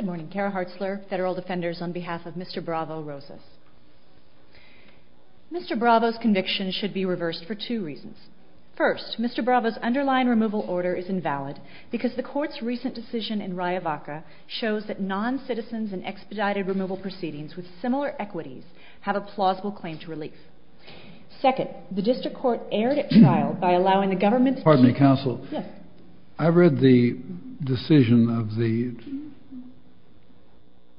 Mr. Bravo's conviction should be reversed for two reasons. First, Mr. Bravo's underlying removal order is invalid because the court's recent decision in Riavaca shows that non-citizens in expedited removal proceedings with similar equities have a plausible claim to relief. Second, the district court erred at trial by allowing the government to Mr. Bravo-Rosas Pardon me, counsel. I read the decision of the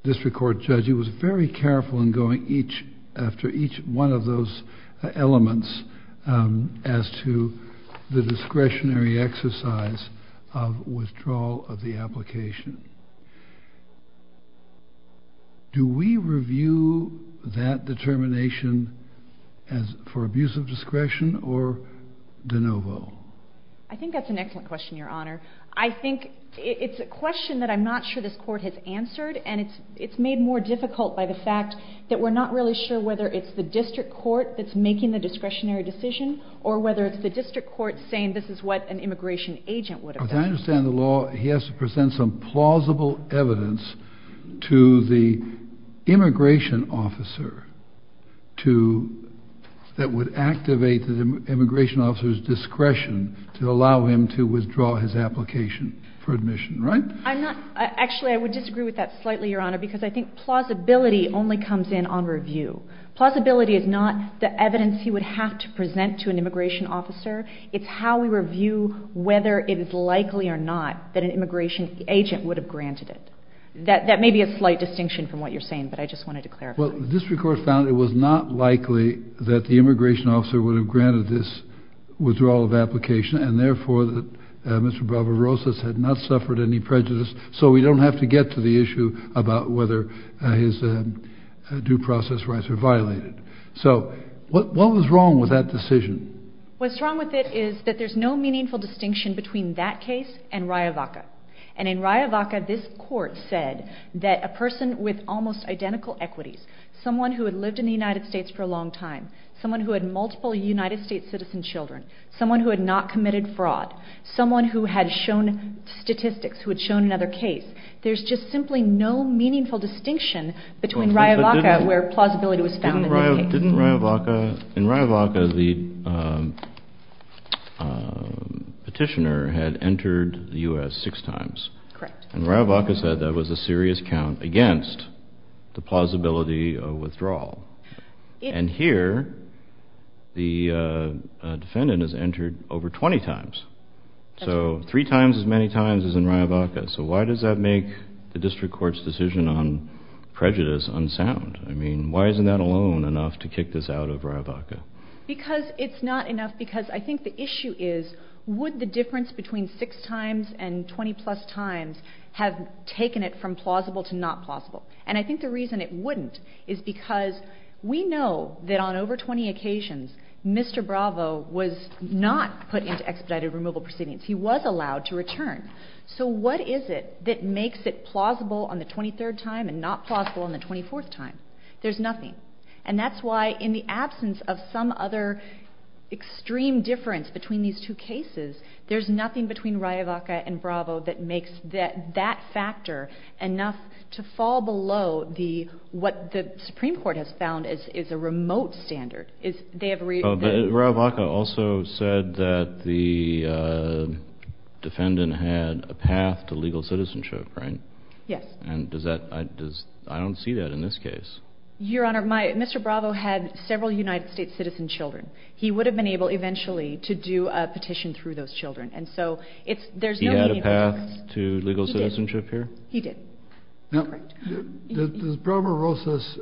district court judge. He was very careful in going after each one of those elements as to the discretionary exercise of withdrawal of the application. Do we review that determination for abuse of discretion or de novo? I think that's an excellent question, Your Honor. I think it's a question that I'm not sure this court has answered, and it's made more difficult by the fact that we're not really sure whether it's the district court that's making the discretionary decision or whether it's the district court saying this is what an immigration agent would have done. As I understand the law, he has to present some plausible evidence to the immigration officer that would activate the immigration officer's discretion to allow him to withdraw his application for admission, right? Actually, I would disagree with that slightly, Your Honor, because I think plausibility only comes in on review. Plausibility is not the evidence he would have to present to an immigration officer. It's how we review whether it is likely or not that an immigration agent would have granted it. That may be a slight distinction from what you're saying, but I just wanted to clarify. Well, the district court found it was not likely that the immigration officer would have granted this withdrawal of application, and therefore that Mr. Barbarossas had not suffered any prejudice, so we don't have to get to the issue about whether his due process rights are violated. So what was wrong with that decision? What's wrong with it is that there's no meaningful distinction between that case and Riavaca. And in Riavaca, this court said that a person with almost identical equities, someone who had lived in the United States for a long time, someone who had multiple United States citizen children, someone who had not committed fraud, someone who had shown statistics, who had shown another case, there's just simply no meaningful distinction between Riavaca where plausibility was found in that case. But didn't Riavaca, in Riavaca, the petitioner had entered the U.S. six times. Correct. And Riavaca said that was a serious count against the plausibility of withdrawal. And here, the defendant has entered over 20 times, so three times as many times as in Riavaca. So why does that make the district court's decision on prejudice unsound? I mean, why isn't that alone enough to kick this out of Riavaca? Because it's not enough because I think the issue is would the difference between six times and 20 plus times have taken it from plausible to not plausible. And I think the reason it wouldn't is because we know that on over 20 occasions, Mr. Bravo was not put into expedited removal proceedings. He was allowed to return. So what is it that makes it plausible on the 23rd time and not plausible on the 24th time? There's nothing. And that's why in the absence of some other extreme difference between these two cases, there's nothing between Riavaca and Bravo that makes that factor enough to fall below what the Supreme Court has found is a remote standard. Riavaca also said that the defendant had a path to legal citizenship, right? Yes. And I don't see that in this case. Your Honor, Mr. Bravo had several United States citizen children. He would have been able eventually to do a petition through those children. And so there's no need for this. He had a path to legal citizenship here? He did. Does Bravo Rosas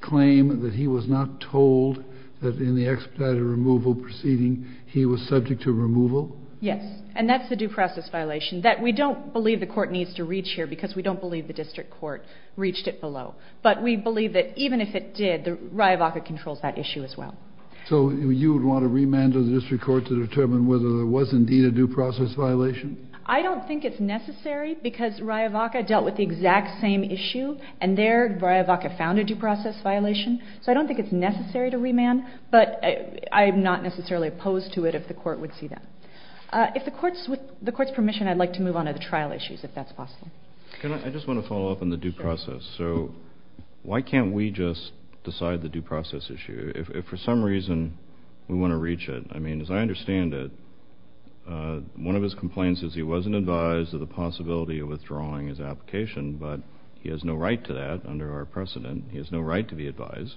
claim that he was not told that in the expedited removal proceeding he was subject to removal? Yes. And that's the due process violation that we don't believe the court needs to reach here because we don't believe the district court reached it below. But we believe that even if it did, Riavaca controls that issue as well. So you would want to remand the district court to determine whether there was indeed a due process violation? I don't think it's necessary because Riavaca dealt with the exact same issue, and there Riavaca found a due process violation. So I don't think it's necessary to remand. But I'm not necessarily opposed to it if the court would see that. With the court's permission, I'd like to move on to the trial issues, if that's possible. I just want to follow up on the due process. So why can't we just decide the due process issue if for some reason we want to reach it? I mean, as I understand it, one of his complaints is he wasn't advised of the possibility of withdrawing his application, but he has no right to that under our precedent. He has no right to be advised.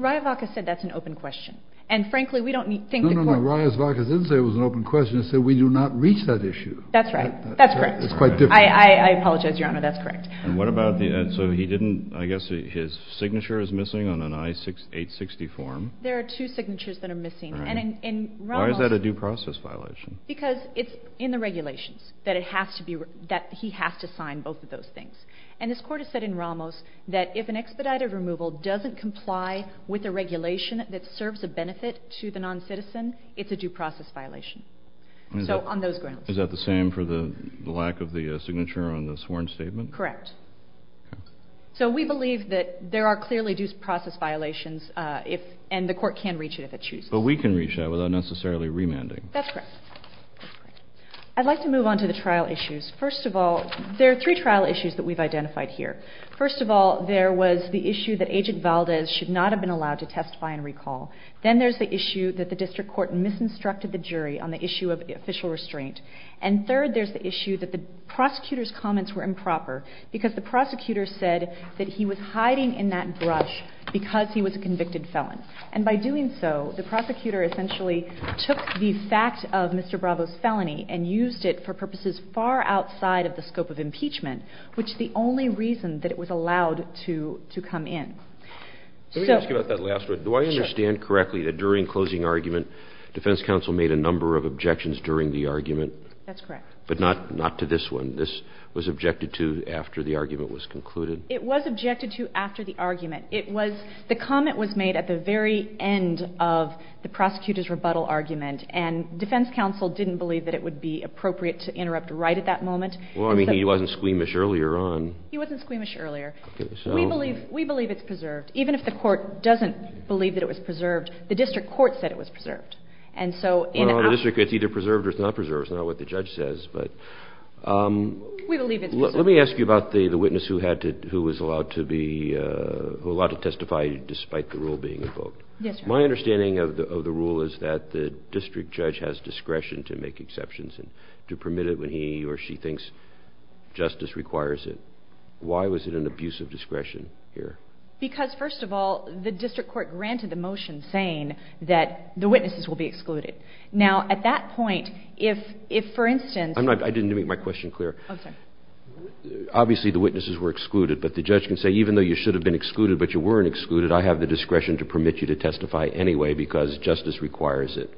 Riavaca said that's an open question. No, no, no, Riavaca didn't say it was an open question. He said we do not reach that issue. That's right. That's correct. It's quite different. I apologize, Your Honor. That's correct. And what about the – so he didn't – I guess his signature is missing on an I-860 form? There are two signatures that are missing. And in Ramos – Why is that a due process violation? Because it's in the regulations that it has to be – that he has to sign both of those things. And this Court has said in Ramos that if an expedited removal doesn't comply with the regulation that serves a benefit to the noncitizen, it's a due process violation. So on those grounds. Is that the same for the lack of the signature on the sworn statement? Correct. Okay. So we believe that there are clearly due process violations if – and the Court can reach it if it chooses. But we can reach that without necessarily remanding. That's correct. I'd like to move on to the trial issues. First of all, there are three trial issues that we've identified here. First of all, there was the issue that Agent Valdez should not have been allowed to testify and recall. Then there's the issue that the district court misinstructed the jury on the issue of official restraint. And third, there's the issue that the prosecutor's comments were improper because the prosecutor said that he was hiding in that brush because he was a convicted felon. And by doing so, the prosecutor essentially took the fact of Mr. Bravo's felony and used it for purposes far outside of the scope of impeachment, which is the only reason that it was allowed to come in. Let me ask you about that last one. Do I understand correctly that during closing argument, defense counsel made a number of objections during the argument? That's correct. But not to this one. This was objected to after the argument was concluded? It was objected to after the argument. It was the comment was made at the very end of the prosecutor's rebuttal argument, and defense counsel didn't believe that it would be appropriate to interrupt right at that moment. Well, I mean, he wasn't squeamish earlier on. He wasn't squeamish earlier. We believe it's preserved. Even if the court doesn't believe that it was preserved, the district court said it was preserved. And so in a… Well, in the district, it's either preserved or it's not preserved. It's not what the judge says, but… We believe it's preserved. Let me ask you about the witness who was allowed to testify despite the rule being invoked. Yes, Your Honor. My understanding of the rule is that the district judge has discretion to make exceptions and to permit it when he or she thinks justice requires it. Why was it an abuse of discretion here? Because, first of all, the district court granted the motion saying that the witnesses will be excluded. Now, at that point, if, for instance… I didn't make my question clear. Oh, sorry. Obviously, the witnesses were excluded, but the judge can say, even though you should have been excluded but you weren't excluded, I have the discretion to permit you to testify anyway because justice requires it.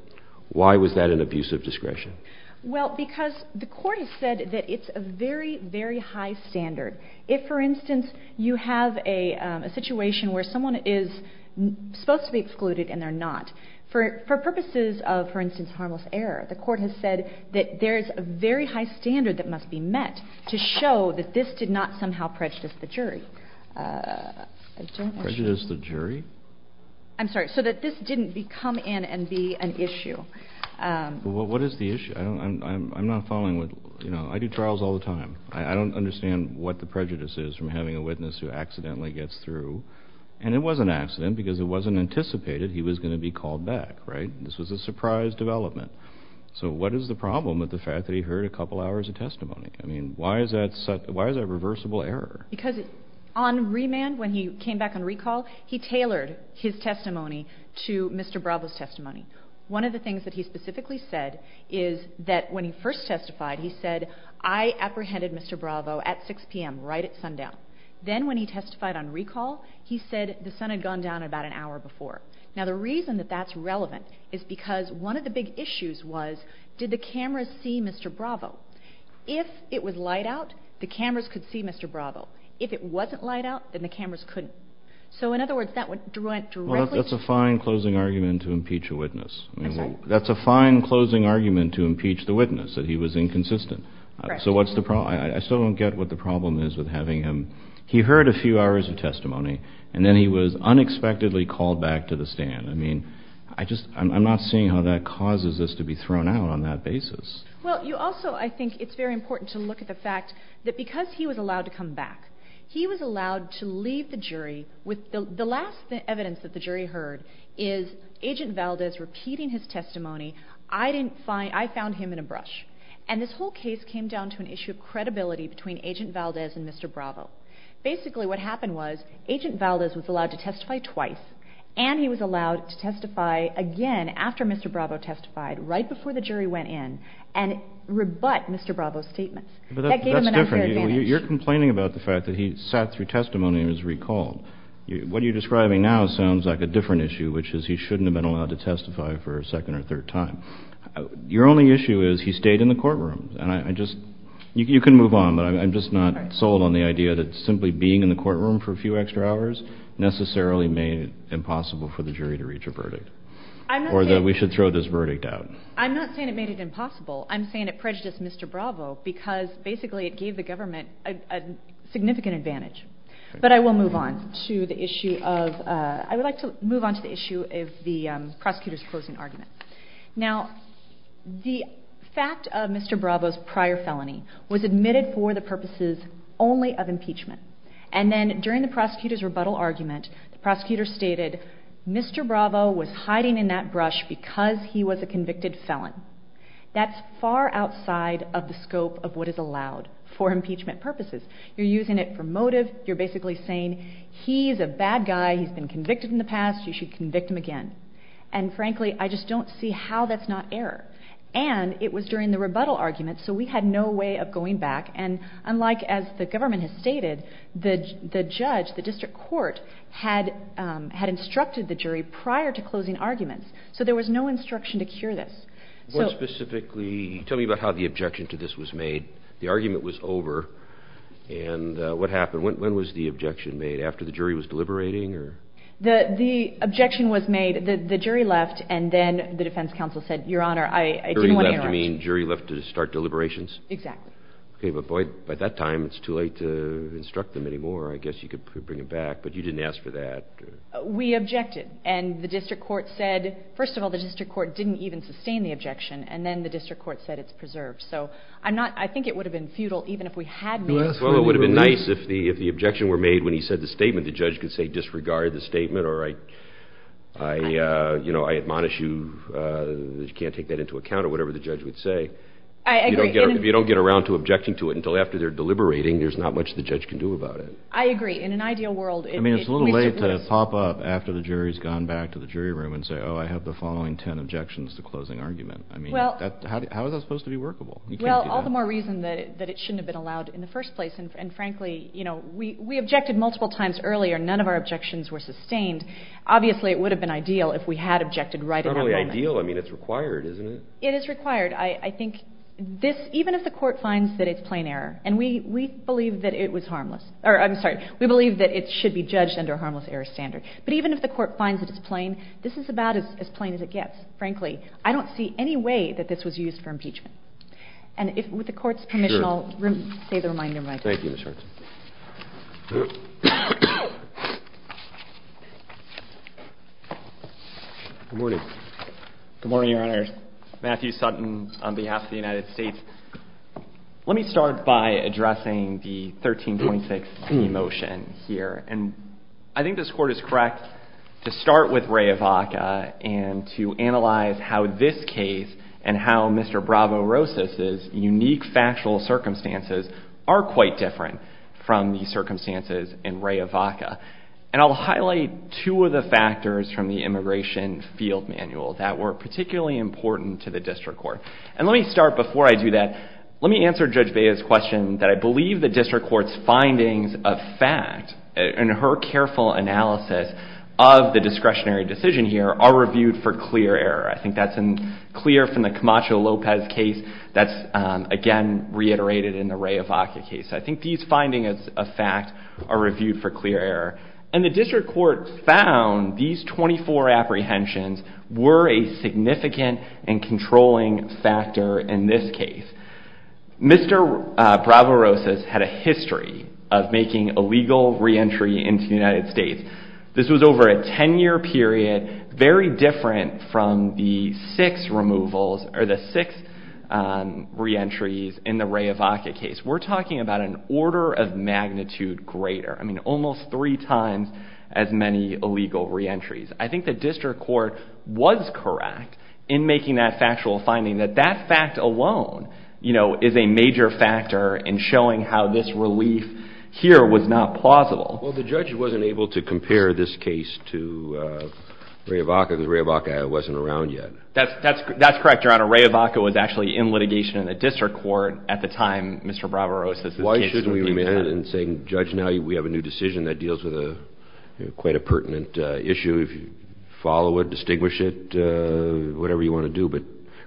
Why was that an abuse of discretion? Well, because the court has said that it's a very, very high standard. If, for instance, you have a situation where someone is supposed to be excluded and they're not, for purposes of, for instance, harmless error, the court has said that there is a very high standard that must be met to show that this did not somehow prejudice the jury. Prejudice the jury? I'm sorry. So that this didn't come in and be an issue. Well, what is the issue? I'm not following. You know, I do trials all the time. I don't understand what the prejudice is from having a witness who accidentally gets through. And it was an accident because it wasn't anticipated he was going to be called back, right? This was a surprise development. So what is the problem with the fact that he heard a couple hours of testimony? I mean, why is that a reversible error? Because on remand, when he came back on recall, he tailored his testimony to Mr. Bravo's testimony. One of the things that he specifically said is that when he first testified, he said, I apprehended Mr. Bravo at 6 p.m., right at sundown. Then when he testified on recall, he said the sun had gone down about an hour before. Now, the reason that that's relevant is because one of the big issues was, did the cameras see Mr. Bravo? If it was light out, the cameras could see Mr. Bravo. If it wasn't light out, then the cameras couldn't. So, in other words, that went directly to the jury. Well, that's a fine closing argument to impeach a witness. I'm sorry? That's a fine closing argument to impeach the witness, that he was inconsistent. Correct. So what's the problem? I still don't get what the problem is with having him. He heard a few hours of testimony, and then he was unexpectedly called back to the stand. I mean, I just, I'm not seeing how that causes this to be thrown out on that basis. Well, you also, I think it's very important to look at the fact that because he was allowed to come back, he was allowed to leave the jury with the last evidence that the jury heard is Agent Valdez repeating his testimony. I didn't find, I found him in a brush. And this whole case came down to an issue of credibility between Agent Valdez and Mr. Bravo. Basically, what happened was Agent Valdez was allowed to testify twice, and he was allowed to testify again after Mr. Bravo testified, right before the jury went in, and rebut Mr. Bravo's statement. That gave him an unfair advantage. But that's different. You're complaining about the fact that he sat through testimony and was recalled. What you're describing now sounds like a different issue, which is he shouldn't have been allowed to testify for a second or third time. Your only issue is he stayed in the courtroom. And I just, you can move on, but I'm just not sold on the idea that simply being in the courtroom for a few extra hours necessarily made it impossible for the jury to reach a verdict. Or that we should throw this verdict out. I'm not saying it made it impossible. I'm saying it prejudiced Mr. Bravo because basically it gave the government a significant advantage. But I will move on to the issue of, I would like to move on to the issue of the prosecutor's closing argument. Now, the fact of Mr. Bravo's prior felony was admitted for the purposes only of impeachment. And then during the prosecutor's rebuttal argument, the prosecutor stated, Mr. Bravo was hiding in that brush because he was a convicted felon. That's far outside of the scope of what is allowed for impeachment purposes. You're using it for motive. You're basically saying he's a bad guy. He's been convicted in the past. You should convict him again. And frankly, I just don't see how that's not error. And it was during the rebuttal argument, so we had no way of going back. And unlike as the government has stated, the judge, the district court, had instructed the jury prior to closing arguments. So there was no instruction to cure this. More specifically, tell me about how the objection to this was made. The argument was over. And what happened? When was the objection made? After the jury was deliberating? The objection was made. The jury left. And then the defense counsel said, Your Honor, I didn't want to interrupt. Jury left to start deliberations? Exactly. Okay, but boy, by that time, it's too late to instruct them anymore. I guess you could bring it back. But you didn't ask for that. We objected. And the district court said, first of all, the district court didn't even sustain the objection. And then the district court said it's preserved. So I think it would have been futile even if we had made it. Well, it would have been nice if the objection were made when he said the statement. The judge could say, Disregard the statement, or I admonish you that you can't take that into account, or whatever the judge would say. I agree. If you don't get around to objecting to it until after they're deliberating, there's not much the judge can do about it. I agree. In an ideal world, it would be a waste of place. I mean, it's a little late to pop up after the jury's gone back to the jury room and say, Oh, I have the following ten objections to closing argument. I mean, how is that supposed to be workable? Well, all the more reason that it shouldn't have been allowed in the first place. And frankly, you know, we objected multiple times earlier. None of our objections were sustained. Obviously, it would have been ideal if we had objected right at that moment. It's not only ideal. I mean, it's required, isn't it? It is required. I think this, even if the court finds that it's plain error, and we believe that it was harmless, or I'm sorry, we believe that it should be judged under a harmless error standard. But even if the court finds that it's plain, this is about as plain as it gets. Frankly, I don't see any way that this was used for impeachment. And with the court's permission, I'll say the reminder of my time. Thank you, Ms. Hertz. Good morning. Good morning, Your Honor. Matthew Sutton on behalf of the United States. Let me start by addressing the 1326C motion here. And I think this court is correct to start with Raya Vaca and to analyze how this case and how Mr. Bravo-Rosas' unique factual circumstances are quite different from the circumstances in Raya Vaca. And I'll highlight two of the factors from the immigration field manual that were particularly important to the district court. And let me start before I do that. Let me answer Judge Bea's question that I believe the district court's findings of fact and her careful analysis of the discretionary decision here are reviewed for clear error. I think that's clear from the Camacho-Lopez case. That's, again, reiterated in the Raya Vaca case. I think these findings of fact are reviewed for clear error. And the district court found these 24 apprehensions were a significant and controlling factor in this case. Mr. Bravo-Rosas had a history of making illegal reentry into the United States. This was over a 10-year period, very different from the six removals or the six reentries in the Raya Vaca case. We're talking about an order of magnitude greater, I mean almost three times as many illegal reentries. I think the district court was correct in making that factual finding that that fact alone is a major factor in showing how this relief here was not plausible. Well, the judge wasn't able to compare this case to Raya Vaca because Raya Vaca wasn't around yet. That's correct, Your Honor. Raya Vaca was actually in litigation in the district court at the time Mr. Bravo-Rosas' case. Why shouldn't we remain in saying, Judge, now we have a new decision that deals with quite a pertinent issue. If you follow it, distinguish it, whatever you want to do, but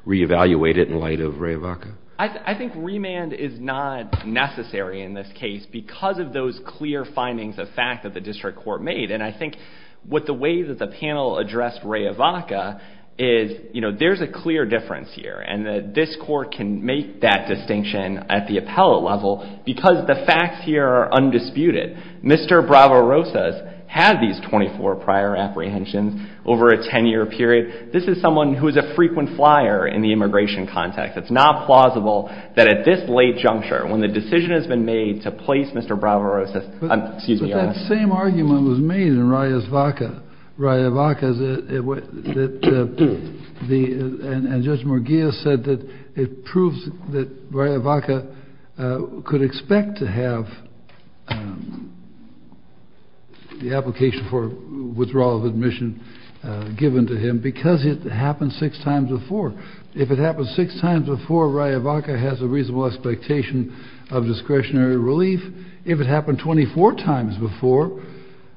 reevaluate it in light of Raya Vaca. I think remand is not necessary in this case because of those clear findings of fact that the district court made. And I think with the way that the panel addressed Raya Vaca is, you know, there's a clear difference here. And this court can make that distinction at the appellate level because the facts here are undisputed. Mr. Bravo-Rosas had these 24 prior apprehensions over a 10-year period. This is someone who is a frequent flyer in the immigration context. It's not plausible that at this late juncture when the decision has been made to place Mr. Bravo-Rosas. Excuse me, Your Honor. But that same argument was made in Raya's Vaca. Raya Vaca, and Judge Murguia said that it proves that Raya Vaca could expect to have the application for withdrawal of admission given to him because it happened six times before. If it happened six times before, Raya Vaca has a reasonable expectation of discretionary relief. If it happened 24 times before,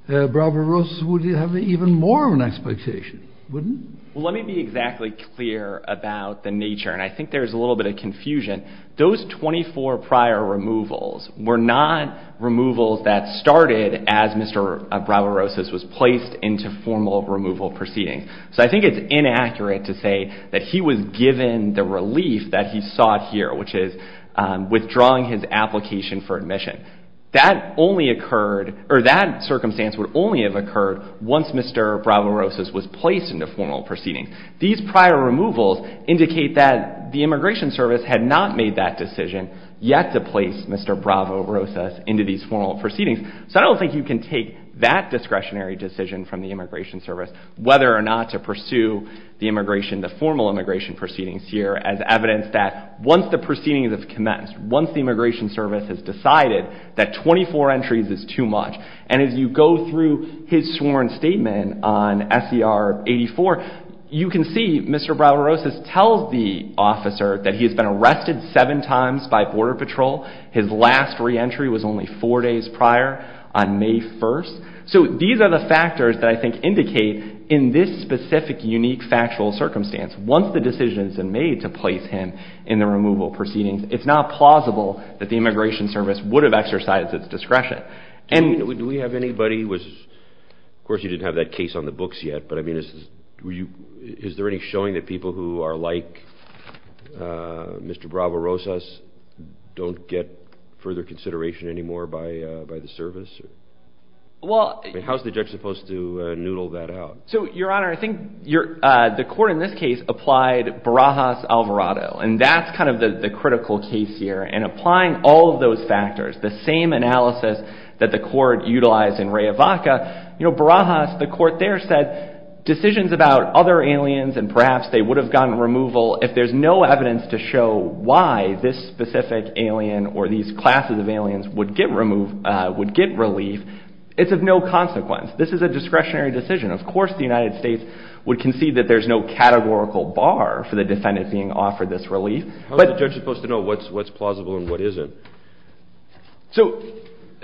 Bravo-Rosas would have even more of an expectation, wouldn't it? Well, let me be exactly clear about the nature. And I think there's a little bit of confusion. Those 24 prior removals were not removals that started as Mr. Bravo-Rosas was placed into formal removal proceedings. So I think it's inaccurate to say that he was given the relief that he sought here, which is withdrawing his application for admission. That circumstance would only have occurred once Mr. Bravo-Rosas was placed into formal proceedings. These prior removals indicate that the Immigration Service had not made that decision yet to place Mr. Bravo-Rosas into these formal proceedings. So I don't think you can take that discretionary decision from the Immigration Service whether or not to pursue the immigration, the formal immigration proceedings here as evidence that once the proceedings have commenced, once the Immigration Service has decided that 24 entries is too much, and as you go through his sworn statement on SCR 84, you can see Mr. Bravo-Rosas tells the officer that he has been arrested seven times by Border Patrol. His last reentry was only four days prior on May 1st. So these are the factors that I think indicate in this specific unique factual circumstance, once the decision has been made to place him in the removal proceedings, it's not plausible that the Immigration Service would have exercised its discretion. Do we have anybody, of course you didn't have that case on the books yet, but is there any showing that people who are like Mr. Bravo-Rosas don't get further consideration anymore by the service? How is the judge supposed to noodle that out? So, Your Honor, I think the court in this case applied Barajas-Alvarado, and that's kind of the critical case here. And applying all of those factors, the same analysis that the court utilized in Rehavaca, you know, Barajas, the court there said decisions about other aliens and perhaps they would have gotten removal if there's no evidence to show why this specific alien or these classes of aliens would get relief, it's of no consequence. This is a discretionary decision. Of course the United States would concede that there's no categorical bar for the defendant being offered this relief. How is the judge supposed to know what's plausible and what isn't? So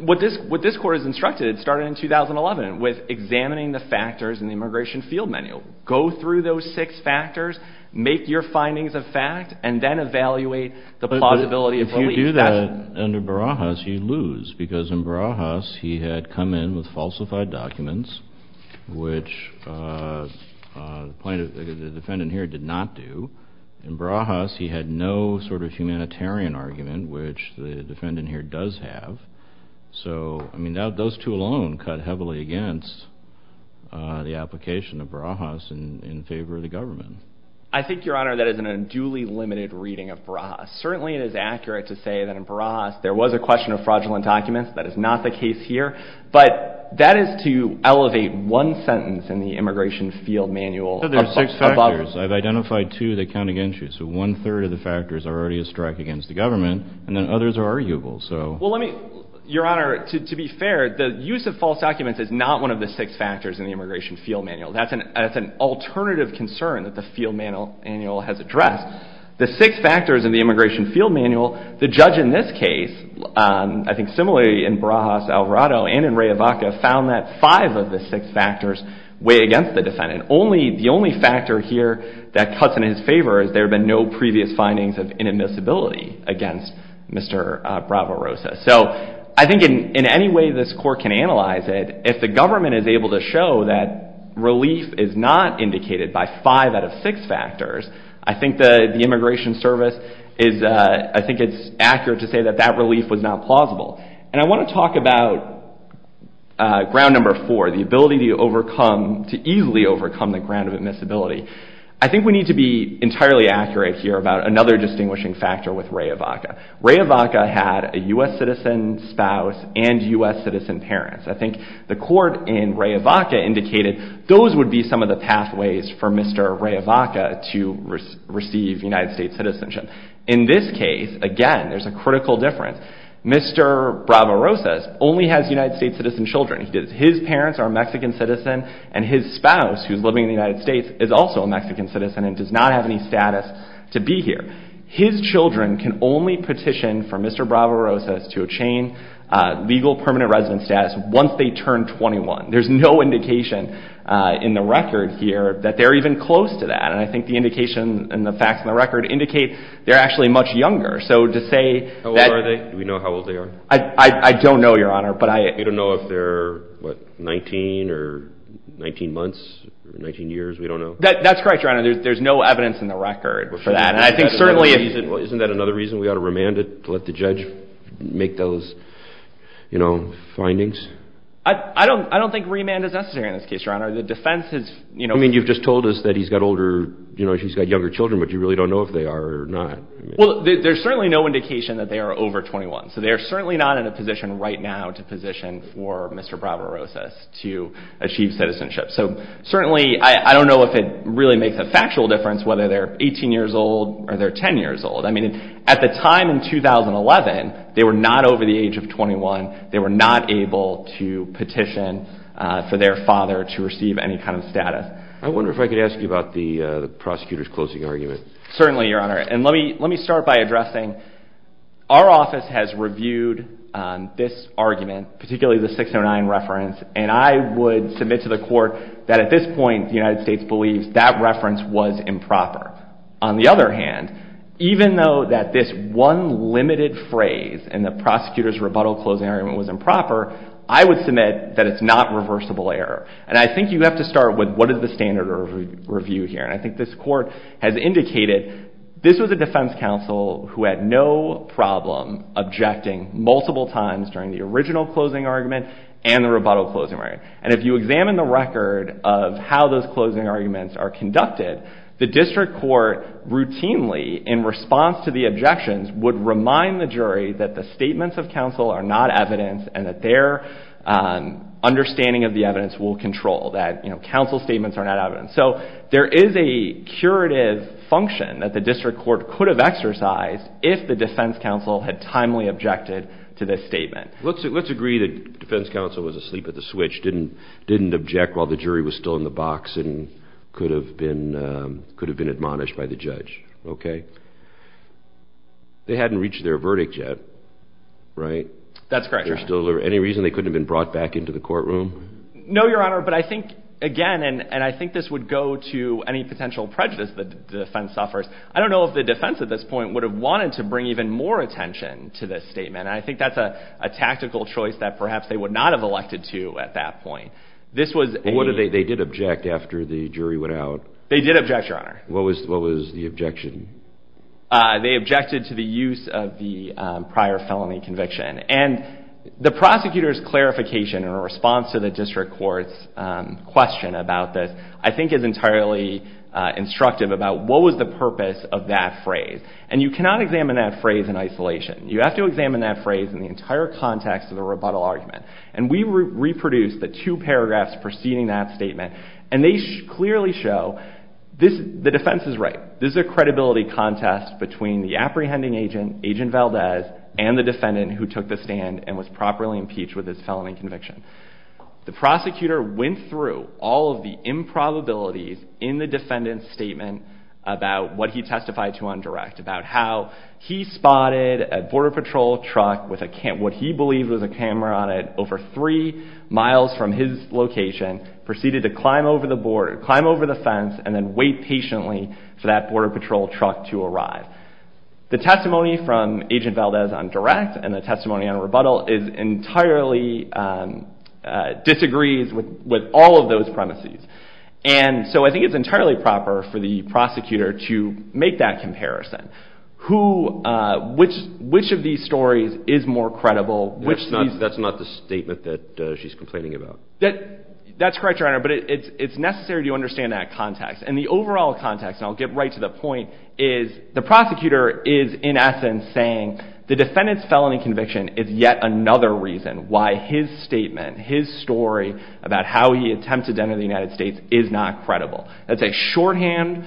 what this court has instructed, it started in 2011 with examining the factors in the immigration field manual. Go through those six factors, make your findings of fact, and then evaluate the plausibility of relief. You do that under Barajas, you lose, because in Barajas he had come in with falsified documents, which the defendant here did not do. In Barajas he had no sort of humanitarian argument, which the defendant here does have. So, I mean, those two alone cut heavily against the application of Barajas in favor of the government. I think, Your Honor, that is an unduly limited reading of Barajas. Certainly it is accurate to say that in Barajas there was a question of fraudulent documents. That is not the case here. But that is to elevate one sentence in the immigration field manual. You said there's six factors. I've identified two that count against you. So one-third of the factors are already a strike against the government, and then others are arguable. Well, let me, Your Honor, to be fair, the use of false documents is not one of the six factors in the immigration field manual. That's an alternative concern that the field manual has addressed. The six factors in the immigration field manual, the judge in this case, I think similarly in Barajas, Alvarado, and in Ray Ivaca found that five of the six factors weigh against the defendant. The only factor here that cuts in his favor is there have been no previous findings of inadmissibility against Mr. Bravo Rosa. So I think in any way this court can analyze it, if the government is able to show that relief is not indicated by five out of six factors, I think the immigration service is, I think it's accurate to say that that relief was not plausible. And I want to talk about ground number four, the ability to overcome, to easily overcome the ground of admissibility. I think we need to be entirely accurate here about another distinguishing factor with Ray Ivaca. Ray Ivaca had a U.S. citizen spouse and U.S. citizen parents. I think the court in Ray Ivaca indicated those would be some of the pathways for Mr. Ray Ivaca to receive United States citizenship. In this case, again, there's a critical difference. Mr. Bravo Rosa only has United States citizen children. His parents are a Mexican citizen and his spouse, who's living in the United States, is also a Mexican citizen and does not have any status to be here. His children can only petition for Mr. Bravo Rosa to obtain legal permanent residence status once they turn 21. There's no indication in the record here that they're even close to that. And I think the indication and the facts in the record indicate they're actually much younger. So to say that – How old are they? Do we know how old they are? I don't know, Your Honor, but I – We don't know if they're, what, 19 or 19 months or 19 years. We don't know. That's correct, Your Honor. There's no evidence in the record for that. Isn't that another reason we ought to remand it, to let the judge make those, you know, findings? I don't think remand is necessary in this case, Your Honor. The defense has – I mean, you've just told us that he's got older – you know, he's got younger children, but you really don't know if they are or not. Well, there's certainly no indication that they are over 21. So they are certainly not in a position right now to position for Mr. Bravo Rosa to achieve citizenship. So certainly, I don't know if it really makes a factual difference whether they're 18 years old or they're 10 years old. I mean, at the time in 2011, they were not over the age of 21. They were not able to petition for their father to receive any kind of status. I wonder if I could ask you about the prosecutor's closing argument. Certainly, Your Honor. And let me start by addressing our office has reviewed this argument, particularly the 609 reference, and I would submit to the court that at this point, the United States believes that reference was improper. On the other hand, even though that this one limited phrase in the prosecutor's rebuttal closing argument was improper, I would submit that it's not reversible error. And I think you have to start with what is the standard of review here. And I think this court has indicated this was a defense counsel who had no problem objecting multiple times during the original closing argument and the rebuttal closing argument. And if you examine the record of how those closing arguments are conducted, the district court routinely in response to the objections would remind the jury that the statements of counsel are not evidence and that their understanding of the evidence will control that, you know, counsel statements are not evidence. So there is a curative function that the district court could have exercised if the defense counsel had timely objected to this statement. Let's agree that defense counsel was asleep at the switch, didn't object while the jury was still in the box, and could have been admonished by the judge. Okay. They hadn't reached their verdict yet, right? That's correct, Your Honor. Any reason they couldn't have been brought back into the courtroom? No, Your Honor. But I think, again, and I think this would go to any potential prejudice that the defense suffers, I don't know if the defense at this point would have wanted to bring even more attention to this statement. And I think that's a tactical choice that perhaps they would not have elected to at that point. This was a… They did object after the jury went out. They did object, Your Honor. What was the objection? They objected to the use of the prior felony conviction. And the prosecutor's clarification in response to the district court's question about this, I think, is entirely instructive about what was the purpose of that phrase. And you cannot examine that phrase in isolation. You have to examine that phrase in the entire context of the rebuttal argument. And we reproduced the two paragraphs preceding that statement, and they clearly show the defense is right. This is a credibility contest between the apprehending agent, Agent Valdez, and the defendant who took the stand and was properly impeached with his felony conviction. The prosecutor went through all of the improbabilities in the defendant's statement about what he testified to on direct, about how he spotted a Border Patrol truck with what he believed was a camera on it over three miles from his location, proceeded to climb over the fence, and then wait patiently for that Border Patrol truck to arrive. The testimony from Agent Valdez on direct and the testimony on rebuttal entirely disagrees with all of those premises. And so I think it's entirely proper for the prosecutor to make that comparison. Which of these stories is more credible? That's not the statement that she's complaining about. That's correct, Your Honor, but it's necessary to understand that context. And the overall context, and I'll get right to the point, is the prosecutor is in essence saying the defendant's felony conviction is yet another reason why his statement, his story about how he attempted to enter the United States is not credible. That's a shorthand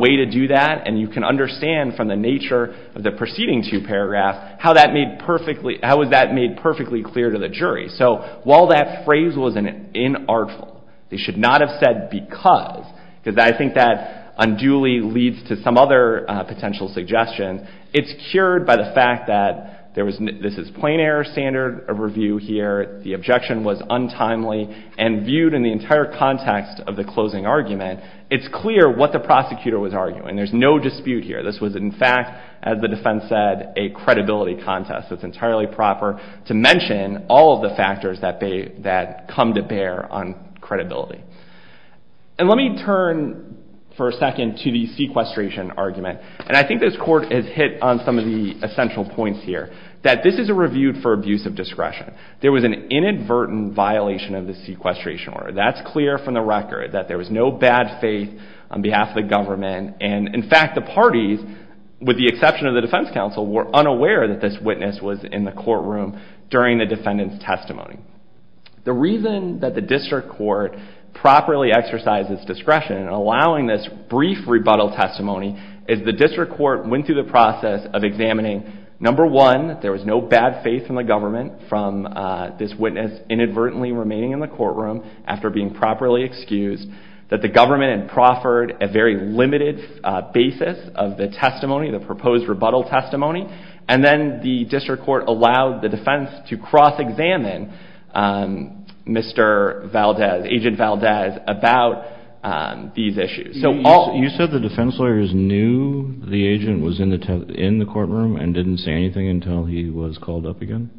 way to do that, and you can understand from the nature of the preceding two paragraphs how that was made perfectly clear to the jury. So while that phrase was inartful, they should not have said because, because I think that unduly leads to some other potential suggestions, it's cured by the fact that this is plain error standard review here, the objection was untimely, and viewed in the entire context of the closing argument, it's clear what the prosecutor was arguing. There's no dispute here. This was in fact, as the defense said, a credibility contest. It's entirely proper to mention all of the factors that come to bear on credibility. And let me turn for a second to the sequestration argument, and I think this court has hit on some of the essential points here, that this is a review for abuse of discretion. There was an inadvertent violation of the sequestration order. That's clear from the record, that there was no bad faith on behalf of the government, and in fact the parties, with the exception of the defense counsel, were unaware that this witness was in the courtroom during the defendant's testimony. The reason that the district court properly exercises discretion in allowing this brief rebuttal testimony, is the district court went through the process of examining, number one, that there was no bad faith in the government from this witness inadvertently remaining in the courtroom after being properly excused, that the government had proffered a very limited basis of the testimony, the proposed rebuttal testimony, and then the district court allowed the defense to cross-examine Mr. Valdez, Agent Valdez, about these issues. You said the defense lawyers knew the agent was in the courtroom and didn't say anything until he was called up again?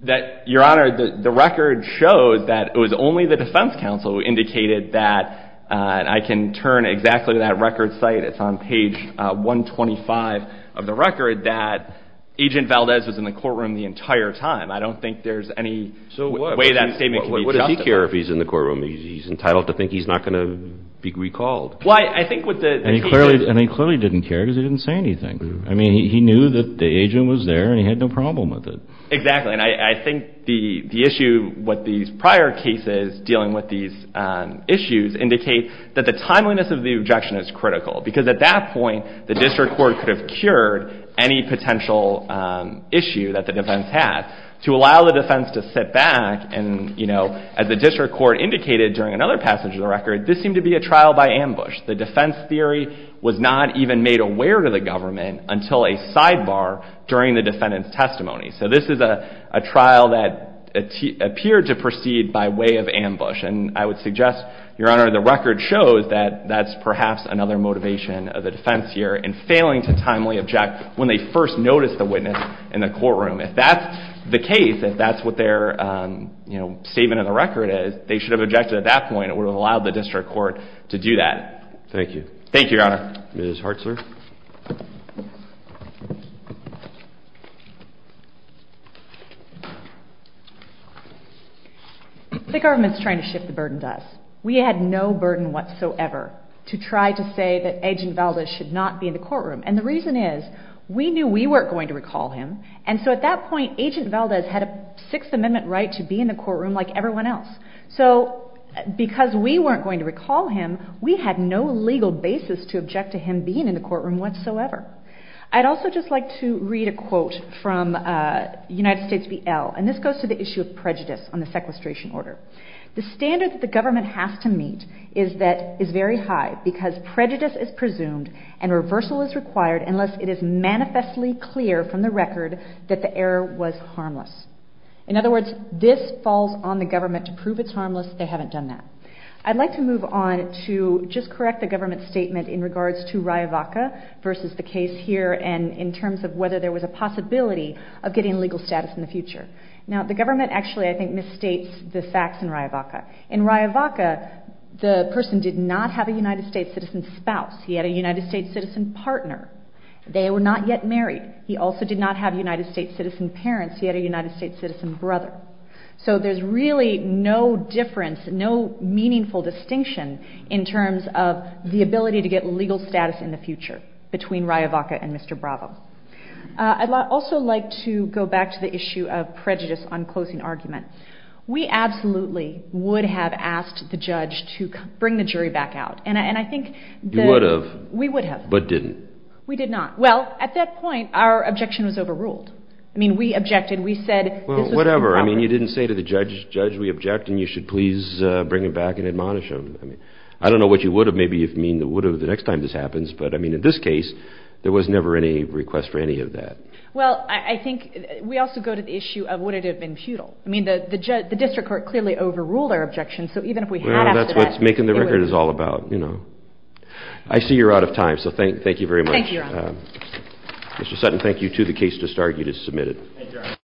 Your Honor, the record shows that it was only the defense counsel who indicated that, and I can turn exactly to that record site, it's on page 125 of the record, that Agent Valdez was in the courtroom the entire time. I don't think there's any way that statement can be justified. So what? What does he care if he's in the courtroom? He's entitled to think he's not going to be recalled. Well, I think what the… And he clearly didn't care because he didn't say anything. I mean, he knew that the agent was there and he had no problem with it. Exactly, and I think the issue with these prior cases dealing with these issues, indicate that the timeliness of the objection is critical because at that point the district court could have cured any potential issue that the defense had. To allow the defense to sit back and, you know, as the district court indicated during another passage of the record, this seemed to be a trial by ambush. The defense theory was not even made aware to the government until a sidebar during the defendant's testimony. So this is a trial that appeared to proceed by way of ambush, and I would suggest, Your Honor, the record shows that that's perhaps another motivation of the defense here in failing to timely object when they first noticed the witness in the courtroom. If that's the case, if that's what their, you know, statement of the record is, they should have objected at that point. It would have allowed the district court to do that. Thank you. Thank you, Your Honor. Ms. Hartzler. The government's trying to shift the burden to us. We had no burden whatsoever to try to say that Agent Valdez should not be in the courtroom, and the reason is we knew we weren't going to recall him, and so at that point Agent Valdez had a Sixth Amendment right to be in the courtroom like everyone else. So because we weren't going to recall him, we had no legal basis to object to him being in the courtroom whatsoever. I'd also just like to read a quote from United States v. L., and this goes to the issue of prejudice on the sequestration order. The standard that the government has to meet is that it's very high because prejudice is presumed and reversal is required unless it is manifestly clear from the record that the error was harmless. In other words, this falls on the government to prove it's harmless. They haven't done that. I'd like to move on to just correct the government's statement in regards to Riavaca versus the case here and in terms of whether there was a possibility of getting legal status in the future. Now, the government actually, I think, misstates the facts in Riavaca. In Riavaca, the person did not have a United States citizen spouse. He had a United States citizen partner. They were not yet married. He also did not have United States citizen parents. He had a United States citizen brother. So there's really no difference, no meaningful distinction in terms of the ability to get legal status in the future between Riavaca and Mr. Bravo. I'd also like to go back to the issue of prejudice on closing argument. We absolutely would have asked the judge to bring the jury back out, and I think that— You would have. We would have. But didn't. We did not. Well, at that point, our objection was overruled. I mean, we objected. And we said this was improper. Well, whatever. I mean, you didn't say to the judge, Judge, we object, and you should please bring him back and admonish him. I don't know what you would have, maybe, if you mean you would have the next time this happens. But, I mean, in this case, there was never any request for any of that. Well, I think we also go to the issue of would it have been futile. I mean, the district court clearly overruled our objection. So even if we had asked for that— Well, that's what making the record is all about, you know. I see you're out of time. So thank you very much. Thank you, Your Honor. Mr. Sutton, thank you to the case to start. You just submitted. Thank you, Your Honor.